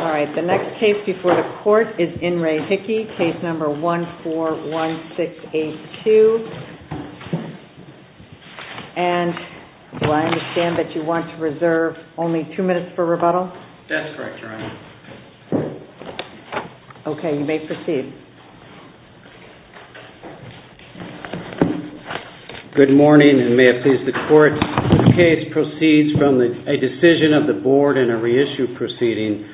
All right. The next case before the court is In Re Hickey, case number 141682. And do I understand that you want to reserve only two minutes for rebuttal? That's correct, Your Honor. Okay. You may proceed. Good morning, and may it please the court, the case proceeds from a decision of the board in a reissue proceeding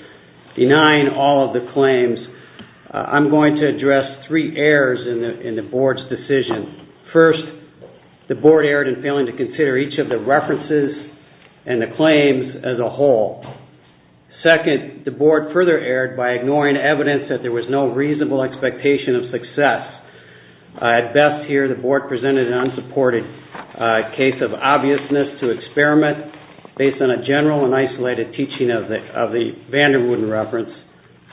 denying all of the claims. I'm going to address three errors in the board's decision. First, the board erred in failing to consider each of the references and the claims as a whole. Second, the board further erred by ignoring evidence that there was no reasonable expectation of success. At best here, the board presented an unsupported case of obviousness to experiment based on a general and isolated teaching of the Vanderwood reference.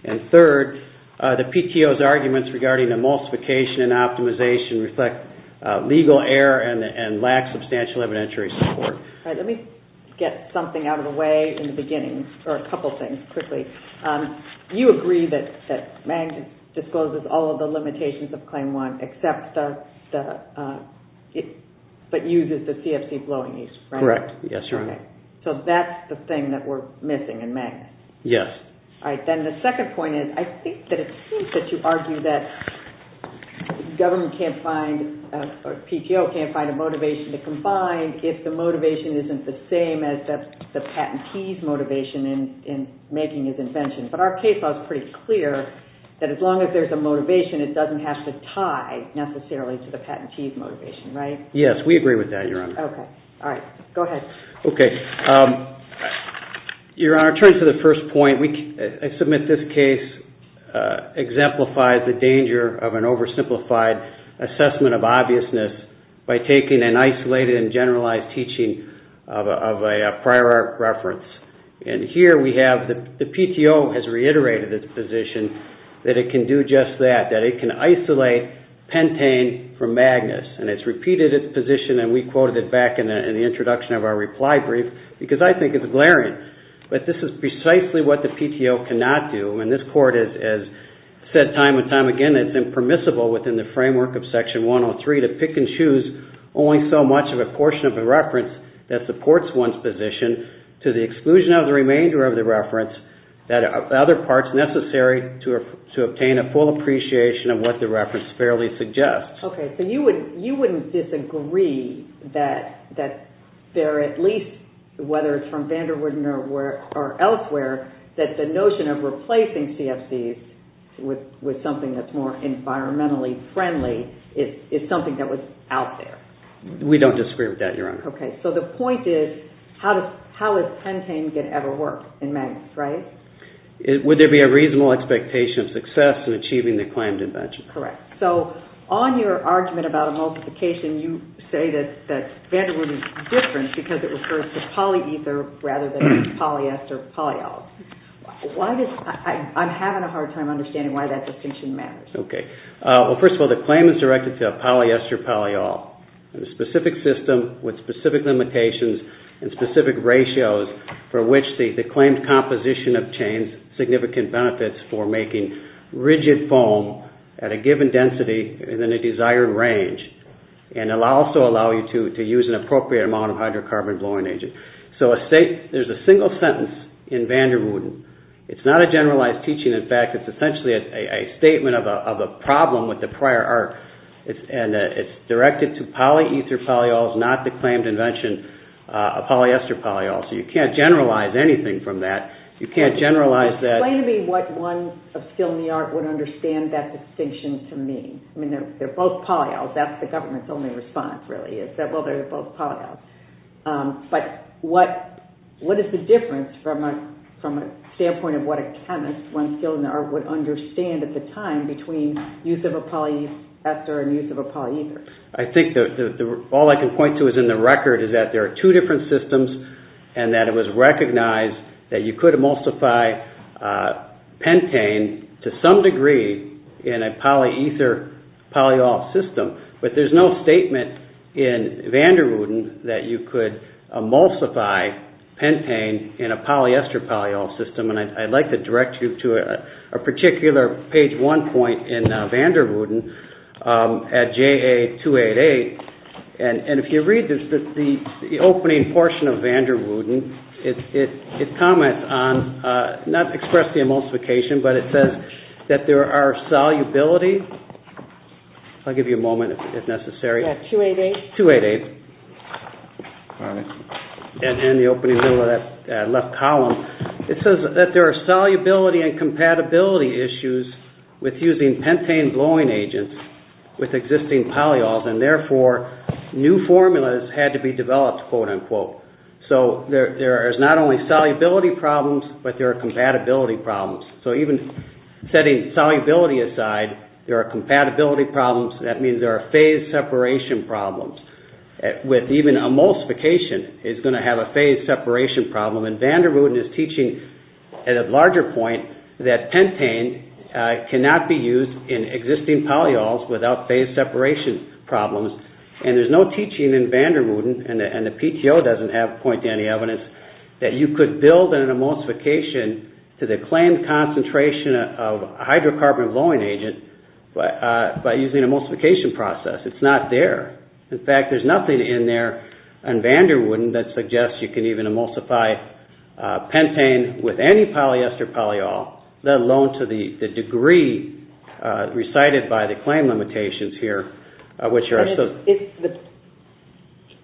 And third, the PTO's arguments regarding emulsification and optimization reflect legal error and lack substantial evidentiary support. All right. Let me get something out of the way in the beginning, or a couple things quickly. You agree that MANG discloses all of the limitations of Claim 1, but uses the CFC blowing ease, right? Correct. Yes, Your Honor. Okay. So that's the thing that we're missing in MANG? Yes. All right. Then the second point is, I think that it's true that you argue that government can't find, or PTO can't find a motivation to combine if the motivation isn't the same as the patentee's motivation in making his invention. But our case law is pretty clear that as long as there's a motivation, it doesn't have to tie necessarily to the patentee's motivation, right? Yes. We agree with that, Your Honor. Okay. All right. Go ahead. Okay. Your Honor, turning to the first point, I submit this case exemplifies the danger of an oversimplified assessment of obviousness by taking an isolated and generalized teaching of a prior reference. And here we have the PTO has reiterated its position that it can do just that, that it can isolate pentane from magnus. And it's repeated its position, and we quoted it back in the introduction of our reply brief, because I think it's glaring. But this is precisely what the PTO cannot do, and this Court has said time and time again that it's impermissible within the framework of Section 103 to pick and choose only so much of a portion of a reference that supports one's position to the exclusion of the remainder of the reference that other parts necessary to obtain a full appreciation of what the reference fairly suggests. Okay. So you wouldn't disagree that there are at least, whether it's from Vanderwood or elsewhere, that the notion of replacing CFCs with something that's more environmentally friendly is something that was out there. We don't disagree with that, Your Honor. Okay. So the point is, how is pentane going to ever work in magnus, right? Would there be a reasonable expectation of success in achieving the claimed invention? Correct. So on your argument about a multiplication, you say that Vanderwood is different because it refers to polyether rather than polyester polyols. I'm having a hard time understanding why that distinction matters. Okay. Well, first of all, the claim is directed to a polyester polyol, a specific system with specific limitations and specific ratios for which the claimed composition obtains significant benefits for making rigid foam at a given density and in a desired range. And it will also allow you to use an appropriate amount of hydrocarbon blowing agent. So there's a single sentence in Vanderwood. It's not a generalized teaching. In fact, it's essentially a statement of a problem with the prior art. And it's directed to polyether polyols, not the claimed invention of polyester polyols. So you can't generalize anything from that. You can't generalize that. Explain to me what one of skill in the art would understand that distinction to mean. I mean, they're both polyols. That's the government's only response, really, is that, well, they're both polyols. But what is the difference from a standpoint of what a chemist, one skilled in the art, would understand at the time between use of a polyester and use of a polyether? I think all I can point to is in the record is that there are two different systems and that it was recognized that you could emulsify pentane to some degree in a polyether polyol system. But there's no statement in Vanderwood that you could emulsify pentane in a polyester polyol system. And I'd like to direct you to a particular page one point in Vanderwood at JA 288. And if you read this, the opening portion of Vanderwood, it comments on, not express the emulsification, but it says that there are solubility. I'll give you a moment if necessary. Yeah, 288. 288. All right. And in the opening middle of that left column, it says that there are solubility and compatibility issues with using pentane blowing agents with existing polyols. And therefore, new formulas had to be developed, quote unquote. So there's not only solubility problems, but there are compatibility problems. So even setting solubility aside, there are compatibility problems. That means there are phase separation problems. With even emulsification, it's going to have a phase separation problem. And Vanderwood is teaching at a larger point that pentane cannot be used in existing polyols without phase separation problems. And there's no teaching in Vanderwood, and the PTO doesn't point to any evidence, that you could build an emulsification to the claimed concentration of a hydrocarbon blowing agent by using emulsification process. It's not there. In fact, there's nothing in there on Vanderwood that suggests you can even emulsify pentane with any polyester polyol, let alone to the degree recited by the claim limitations here.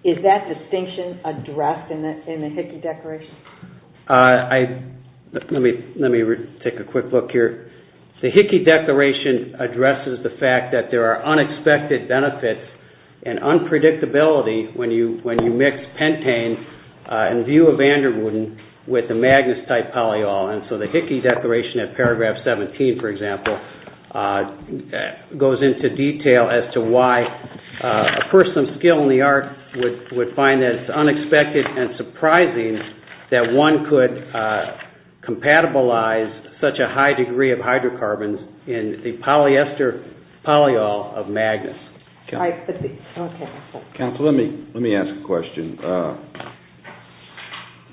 Is that distinction addressed in the Hickey Declaration? Let me take a quick look here. The Hickey Declaration addresses the fact that there are unexpected benefits and unpredictability when you mix pentane in view of Vanderwood with a magnus type polyol. And so the Hickey Declaration at paragraph 17, for example, goes into detail as to why a person of skill in the art would find that it's unexpected and surprising that one could compatibilize such a high degree of hydrocarbons in the polyester polyol of magnus. Counsel, let me ask a question.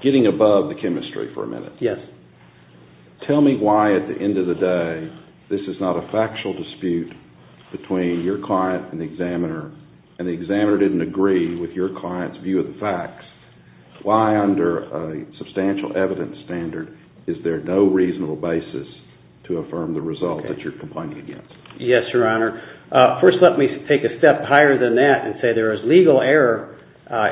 Getting above the chemistry for a minute. Yes. Tell me why at the end of the day this is not a factual dispute between your client and the examiner, and the examiner didn't agree with your client's view of the facts. Why under a substantial evidence standard is there no reasonable basis to affirm the Yes, Your Honor. First let me take a step higher than that and say there is legal error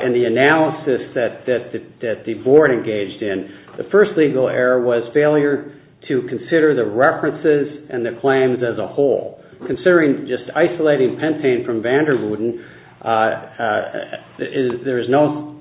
in the analysis that the board engaged in. The first legal error was failure to consider the references and the claims as a whole. Considering just isolating pentane from Vanderwood, there is no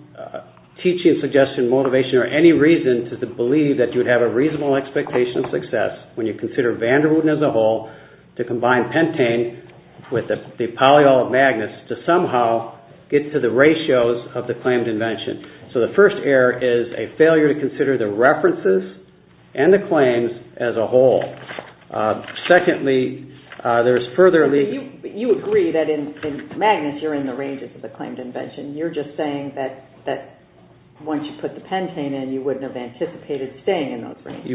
teaching suggestion, motivation, or any reason to believe that you'd have a reasonable expectation of success when you consider Vanderwood as a whole to combine pentane with the polyol of magnus to somehow get to the ratios of the claimed invention. So the first error is a failure to consider the references and the claims as a whole. Secondly, there is further legal... But you agree that in magnus you're in the ranges of the claimed invention. You're just saying that once you put the pentane in, you wouldn't have anticipated staying in those ranges.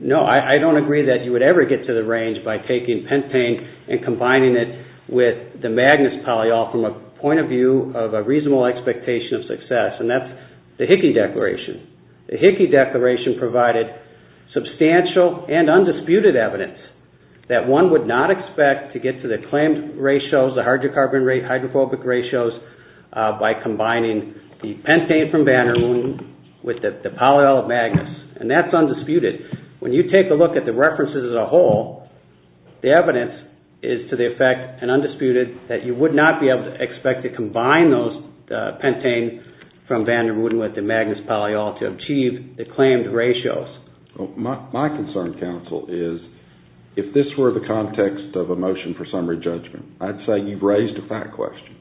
No, I don't agree that you would ever get to the range by taking pentane and combining it with the magnus polyol from a point of view of a reasonable expectation of success. And that's the Hickey Declaration. The Hickey Declaration provided substantial and undisputed evidence that one would not expect to get to the claimed ratios, the hydrocarbon, hydrophobic ratios, by combining the pentane from Vanderwood with the polyol of magnus. And that's undisputed. When you take a look at the references as a whole, the evidence is to the effect and undisputed that you would not be able to expect to combine those pentane from Vanderwood with the magnus polyol to achieve the claimed ratios. My concern, counsel, is if this were the context of a motion for summary judgment, I'd say you've raised a fact question.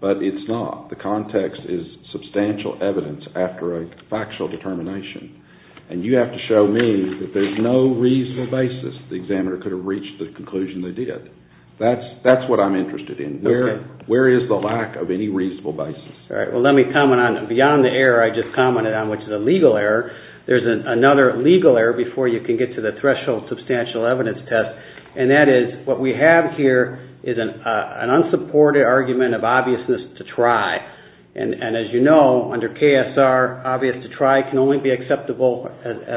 But it's not. The context is substantial evidence after a factual determination. And you have to show me that there's no reasonable basis the examiner could have reached the conclusion they did. That's what I'm interested in. Where is the lack of any reasonable basis? All right. Well, let me comment on it. Beyond the error I just commented on, which is a legal error, there's another legal error before you can get to the threshold substantial evidence test. And that is what we have here is an unsupported argument of obviousness to try. And as you know, under KSR, obvious to try can only be acceptable,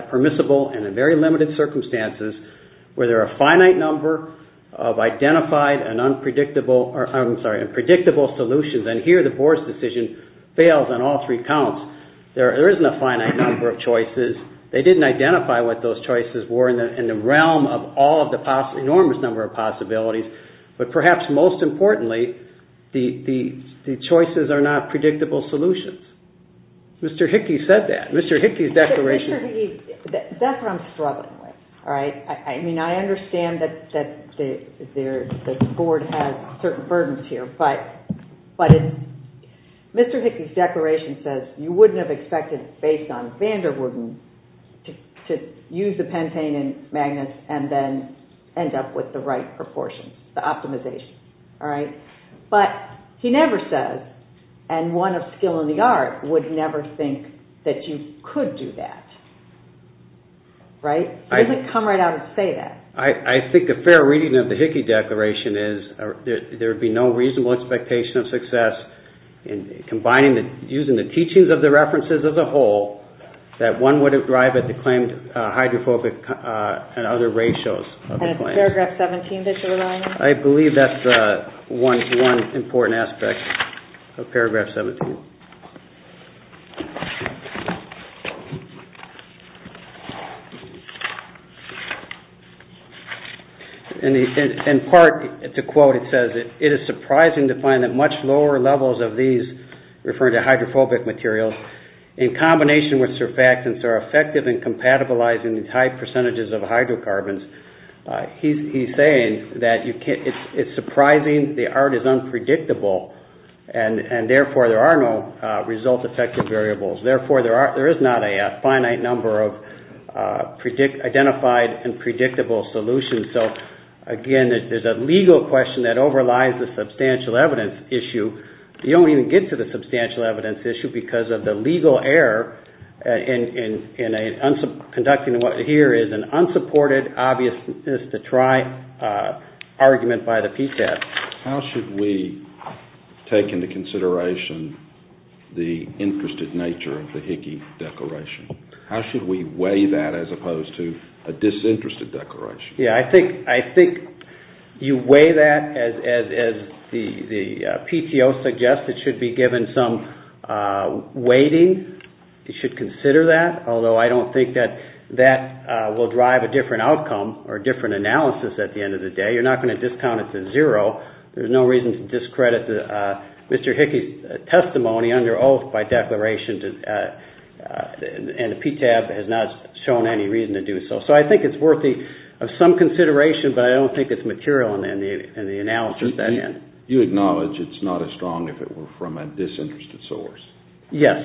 permissible, and in very limited circumstances where there are a finite number of identified and predictable solutions. And here the board's decision fails on all three counts. There isn't a finite number of choices. They didn't identify what those choices were in the realm of all of the enormous number of possibilities. But perhaps most importantly, the choices are not predictable solutions. Mr. Hickey said that. Mr. Hickey's declaration. That's what I'm struggling with. All right. I mean, I understand that the board has certain burdens here. But Mr. Hickey's declaration says you wouldn't have expected based on Vanderwood to use the pentane and magnets and then end up with the right proportions, the optimization. All right. But he never says, and one of skill in the art would never think that you could do that. Right? He doesn't come right out and say that. I think a fair reading of the Hickey declaration is there would be no reasonable expectation of success in combining and using the teachings of the references as a whole that one would have derived at the claimed hydrophobic and other ratios of the claims. And it's paragraph 17 that you're relying on? I believe that's the one important aspect of paragraph 17. In part, it's a quote. It says, it is surprising to find that much lower levels of these, referring to hydrophobic materials, in combination with surfactants are effective in compatibilizing the high percentages of hydrocarbons. He's saying that it's surprising, the art is unpredictable, and therefore there are no result effective variables. Therefore, there is not a finite number of identified and predictable solutions. So, again, there's a legal question that overlies the substantial evidence issue. You don't even get to the substantial evidence issue because of the legal error in conducting what here is an unsupported obviousness to try argument by the PTAS. How should we take into consideration the interested nature of the Hickey Declaration? How should we weigh that as opposed to a disinterested declaration? Yeah, I think you weigh that as the PTO suggests. It should be given some weighting. You should consider that, although I don't think that that will drive a different outcome or different analysis at the end of the day. You're not going to discount it to zero. There's no reason to discredit Mr. Hickey's testimony under oath by declaration, and the PTAS has not shown any reason to do so. So I think it's worthy of some consideration, but I don't think it's material in the analysis at the end. You acknowledge it's not as strong if it were from a disinterested source? Yes.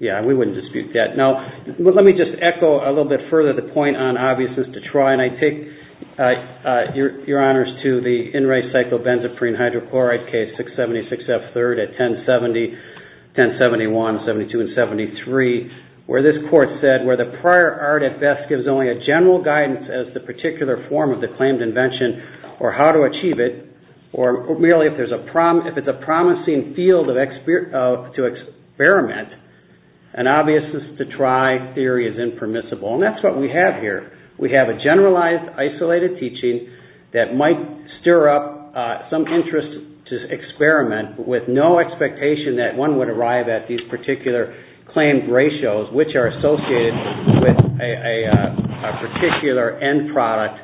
Yeah, we wouldn't dispute that. Now, let me just echo a little bit further the point on obviousness to try. And I take your honors to the in-right psychobenzaprine hydrochloride case 676F3rd at 1070, 1071, 72, and 73, where this court said where the prior art at best gives only a general guidance as to the particular form of the claimed invention or how to achieve it, or merely if it's a theory is impermissible. And that's what we have here. We have a generalized isolated teaching that might stir up some interest to experiment with no expectation that one would arrive at these particular claimed ratios, which are associated with a particular end product.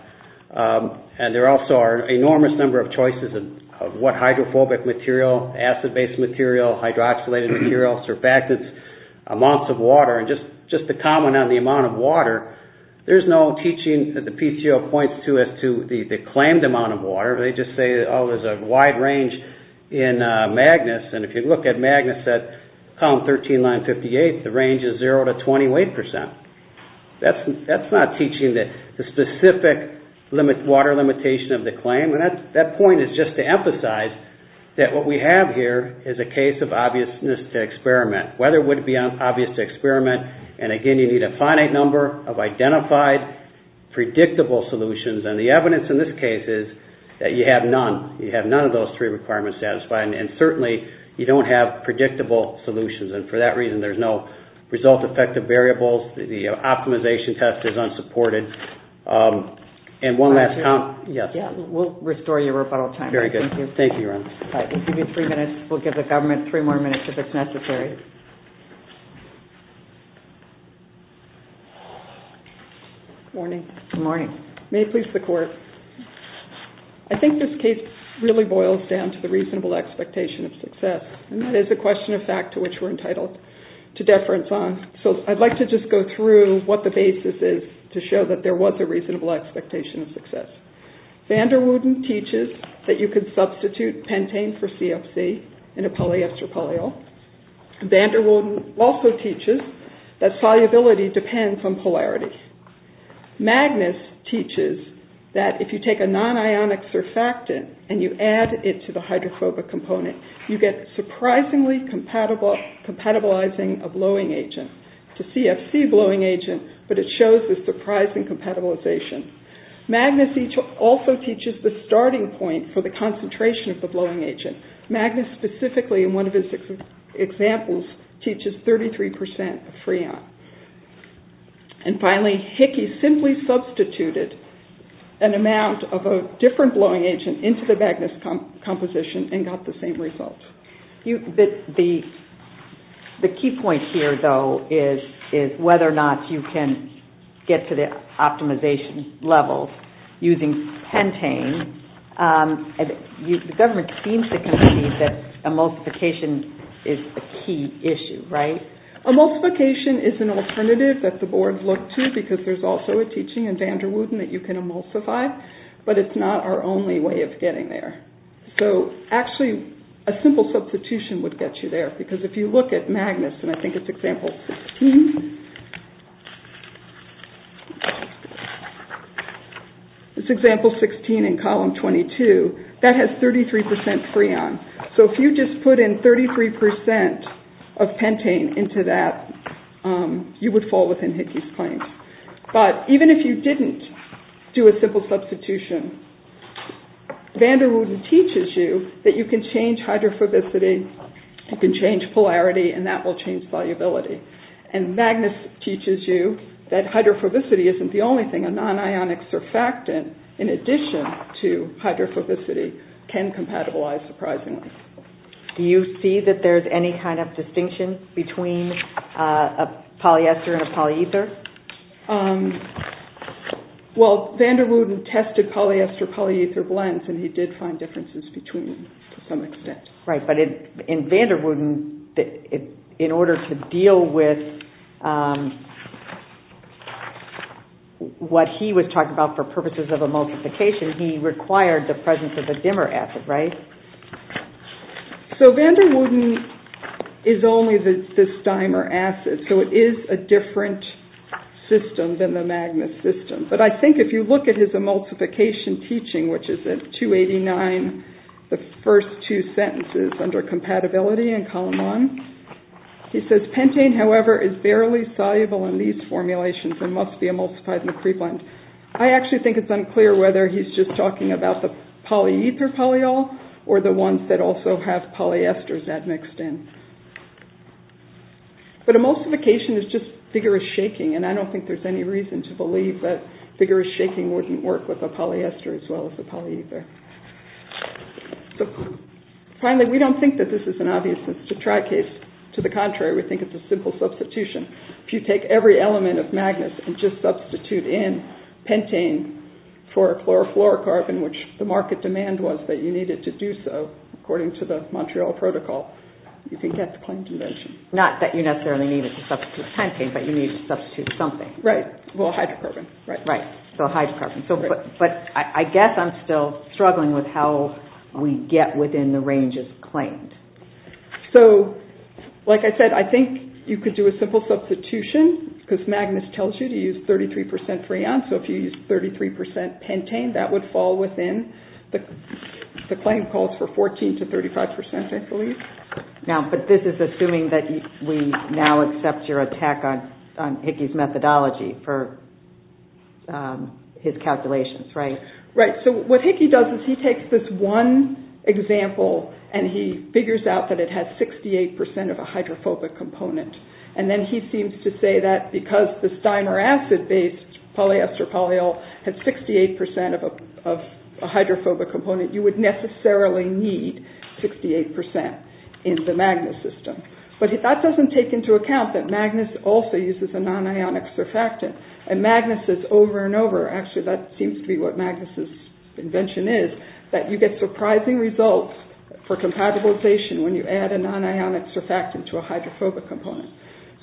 And there also are an enormous number of choices of what hydrophobic material, acid-based material, hydroxylated material, surfactants, amounts of water. And just to comment on the amount of water, there's no teaching that the PTO points to as to the claimed amount of water. They just say, oh, there's a wide range in magnus. And if you look at magnus at column 13, line 58, the range is 0 to 20 weight percent. That's not teaching the specific water limitation of the claim. And that point is just to emphasize that what we have here is a case of obviousness to experiment. Whether it would be obvious to experiment, and again, you need a finite number of identified predictable solutions. And the evidence in this case is that you have none. You have none of those three requirements satisfied. And certainly, you don't have predictable solutions. And for that reason, there's no result effective variables. The optimization test is unsupported. And one last comment. Yes. We'll restore your rebuttal time. Very good. Thank you. Thank you, Your Honor. We'll give the government three more minutes if it's necessary. Good morning. Good morning. May it please the Court. I think this case really boils down to the reasonable expectation of success. And that is a question of fact to which we're entitled to deference on. So I'd like to just go through what the basis is to show that there was a reasonable expectation of success. Vanderwooden teaches that you could substitute pentane for CFC in a polyester polyol. Vanderwooden also teaches that solubility depends on polarity. Magnus teaches that if you take a non-ionic surfactant and you add it to the hydrophobic component, you get surprisingly compatibilizing a blowing agent to CFC blowing agent, but it shows a surprising compatibilization. Magnus also teaches the starting point for the concentration of the blowing agent. Magnus specifically, in one of his examples, teaches 33 percent of freon. And finally, Hickey simply substituted an amount of a different blowing agent into the The key point here, though, is whether or not you can get to the optimization level using pentane. The government seems to concede that emulsification is a key issue, right? Emulsification is an alternative that the boards look to because there's also a teaching in Vanderwooden that you can emulsify, but it's not our only way of getting there. So actually, a simple substitution would get you there because if you look at Magnus, and I think it's example 16, it's example 16 in column 22, that has 33 percent freon. So if you just put in 33 percent of pentane into that, you would fall within Hickey's But even if you didn't do a simple substitution, Vanderwooden teaches you that you can change hydrophobicity, you can change polarity, and that will change volubility. And Magnus teaches you that hydrophobicity isn't the only thing. A non-ionic surfactant, in addition to hydrophobicity, can compatibilize, surprisingly. Do you see that there's any kind of distinction between a polyester and a polyether? Well, Vanderwooden tested polyester-polyether blends, and he did find differences between them to some extent. Right, but in Vanderwooden, in order to deal with what he was talking about for purposes of emulsification, he required the presence of a dimmer acid, right? So Vanderwooden is only this dimer acid. So it is a different system than the Magnus system. But I think if you look at his emulsification teaching, which is at 289, the first two sentences under compatibility in column one, he says pentane, however, is barely soluble in these formulations and must be emulsified in the preblend. I actually think it's unclear whether he's just talking about the polyether-polyol or the ones that also have polyesters admixed in. But emulsification is just vigorous shaking, and I don't think there's any reason to believe that vigorous shaking wouldn't work with a polyester as well as a polyether. So, finally, we don't think that this is an obviousness to try a case. To the contrary, we think it's a simple substitution. If you take every element of Magnus and just substitute in pentane for a chlorofluorocarbon, which the market demand was that you needed to do so according to the Montreal Protocol, you can get the claimed invention. Not that you necessarily needed to substitute pentane, but you needed to substitute something. Right, well, hydrocarbon. Right, so hydrocarbon. But I guess I'm still struggling with how we get within the ranges claimed. So, like I said, I think you could do a simple substitution, because Magnus tells you to use 33% freon, so if you use 33% pentane, that would fall within. The claim calls for 14% to 35%, I believe. Now, but this is assuming that we now accept your attack on Hickey's methodology for his calculations, right? Right, so what Hickey does is he takes this one example and he figures out that it has 68% of a hydrophobic component. And then he seems to say that because the steimer acid-based polyester polyol had 68% of a hydrophobic component, you would necessarily need 68% in the Magnus system. But that doesn't take into account that Magnus also uses a non-ionic surfactant. And Magnus says over and over, actually that seems to be what Magnus' invention is, that you get surprising results for compatibilization when you add a non-ionic surfactant to a hydrophobic component.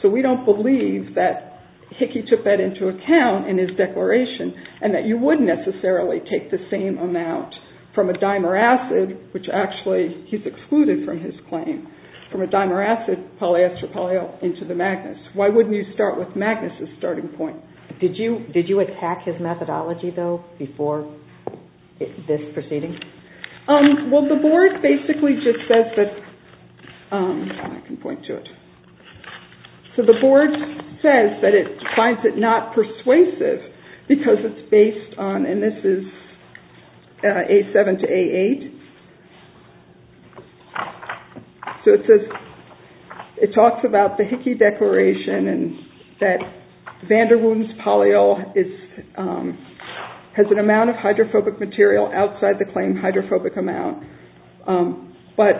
So we don't believe that Hickey took that into account in his declaration, and that you wouldn't necessarily take the same amount from a steimer acid, which actually he's excluded from his claim, from a steimer acid polyester polyol into the Magnus. Why wouldn't you start with Magnus' starting point? Did you attack his methodology, though, before this proceeding? Well, the board basically just says that it finds it not persuasive because it's based on, and this is A7 to A8. So it says, it talks about the Hickey declaration, and that Vanderwouden's polyol has an amount of hydrophobic material outside the claimed hydrophobic amount. But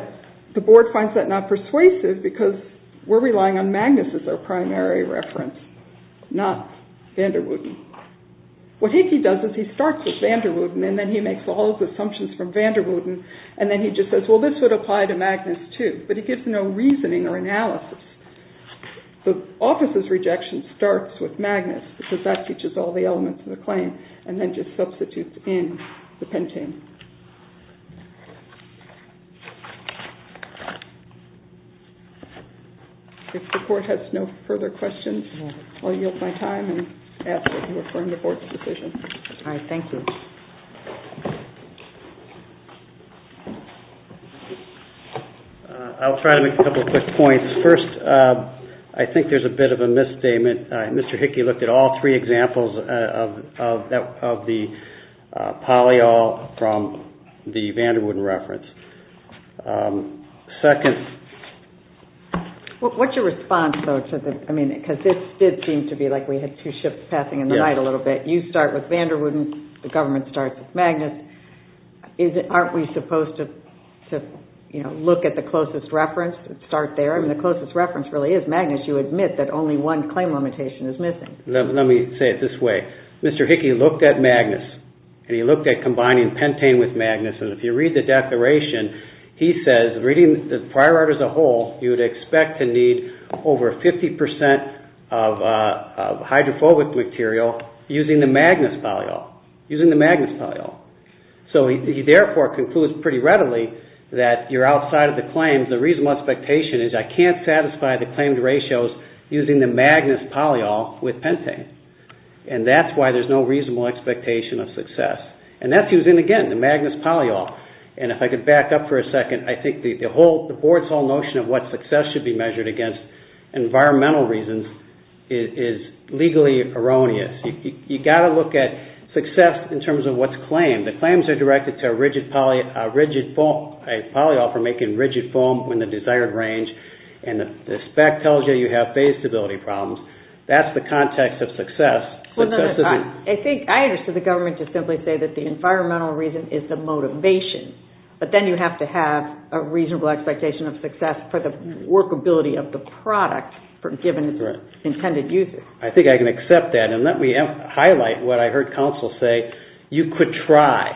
the board finds that not persuasive because we're relying on Magnus as our primary reference, not Vanderwouden. What Hickey does is he starts with Vanderwouden, and then he makes all his assumptions from Vanderwouden, and then he just says, well, this would apply to Magnus, too. But he gives no reasoning or analysis. The office's rejection starts with Magnus, because that teaches all the elements of the claim, and then just substitutes in the pentane. If the court has no further questions, I'll yield my time and ask that you refer the board to decision. All right. Thank you. I'll try to make a couple of quick points. First, I think there's a bit of a misstatement. Mr. Hickey looked at all three examples of the polyol from the Vanderwouden reference. Second. What's your response, though, because this did seem to be like we had two ships passing in the night a little bit. You start with Vanderwouden. The government starts with Magnus. Aren't we supposed to look at the closest reference and start there? I mean, the closest reference really is Magnus. Why would you admit that only one claim limitation is missing? Let me say it this way. Mr. Hickey looked at Magnus, and he looked at combining pentane with Magnus. And if you read the declaration, he says, reading the prior art as a whole, you would expect to need over 50 percent of hydrophobic material using the Magnus polyol. So he, therefore, concludes pretty readily that you're outside of the claims. The reasonable expectation is I can't satisfy the claimed ratios using the Magnus polyol with pentane. And that's why there's no reasonable expectation of success. And that's using, again, the Magnus polyol. And if I could back up for a second, I think the board's whole notion of what success should be measured against environmental reasons is legally erroneous. You've got to look at success in terms of what's claimed. The claims are directed to a polyol for making rigid foam in the desired range, and the spec tells you you have phase stability problems. That's the context of success. I think I understood the government to simply say that the environmental reason is the motivation. But then you have to have a reasonable expectation of success for the workability of the product, given its intended uses. I think I can accept that. And let me highlight what I heard counsel say. You could try.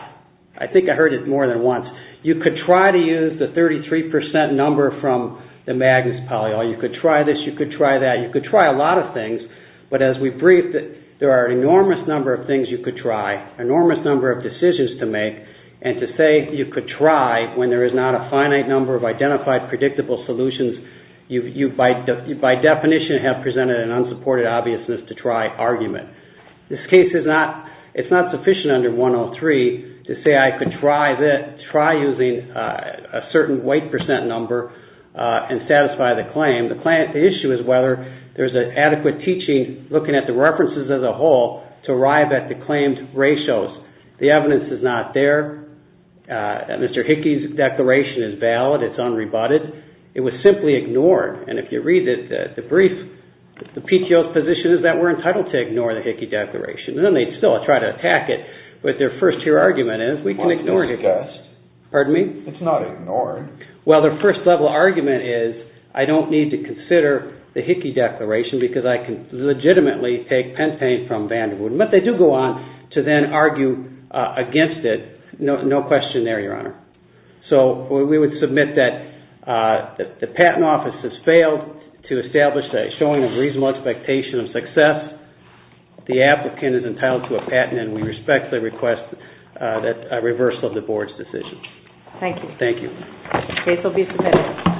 I think I heard it more than once. You could try to use the 33 percent number from the Magnus polyol. You could try this. You could try that. You could try a lot of things. But as we briefed, there are an enormous number of things you could try, an enormous number of decisions to make. And to say you could try when there is not a finite number of identified predictable solutions, you by definition have presented an unsupported obviousness to try argument. This case is not sufficient under 103 to say I could try using a certain weight percent number and satisfy the claim. The issue is whether there is an adequate teaching looking at the references as a whole to arrive at the claimed ratios. The evidence is not there. Mr. Hickey's declaration is valid. It's unrebutted. It was simply ignored. And if you read it, the brief, the PTO's position is that we're entitled to ignore the Hickey declaration. And then they still try to attack it with their first-tier argument, and if we can ignore it, I guess. Pardon me? It's not ignored. Well, their first-level argument is I don't need to consider the Hickey declaration because I can legitimately take pen paint from Vanderwood. But they do go on to then argue against it. No question there, Your Honor. So we would submit that the patent office has failed to establish a showing of reasonable expectation of success. The applicant is entitled to a patent, and we respectfully request a reversal of the board's decision. Thank you. Thank you. The case will be submitted.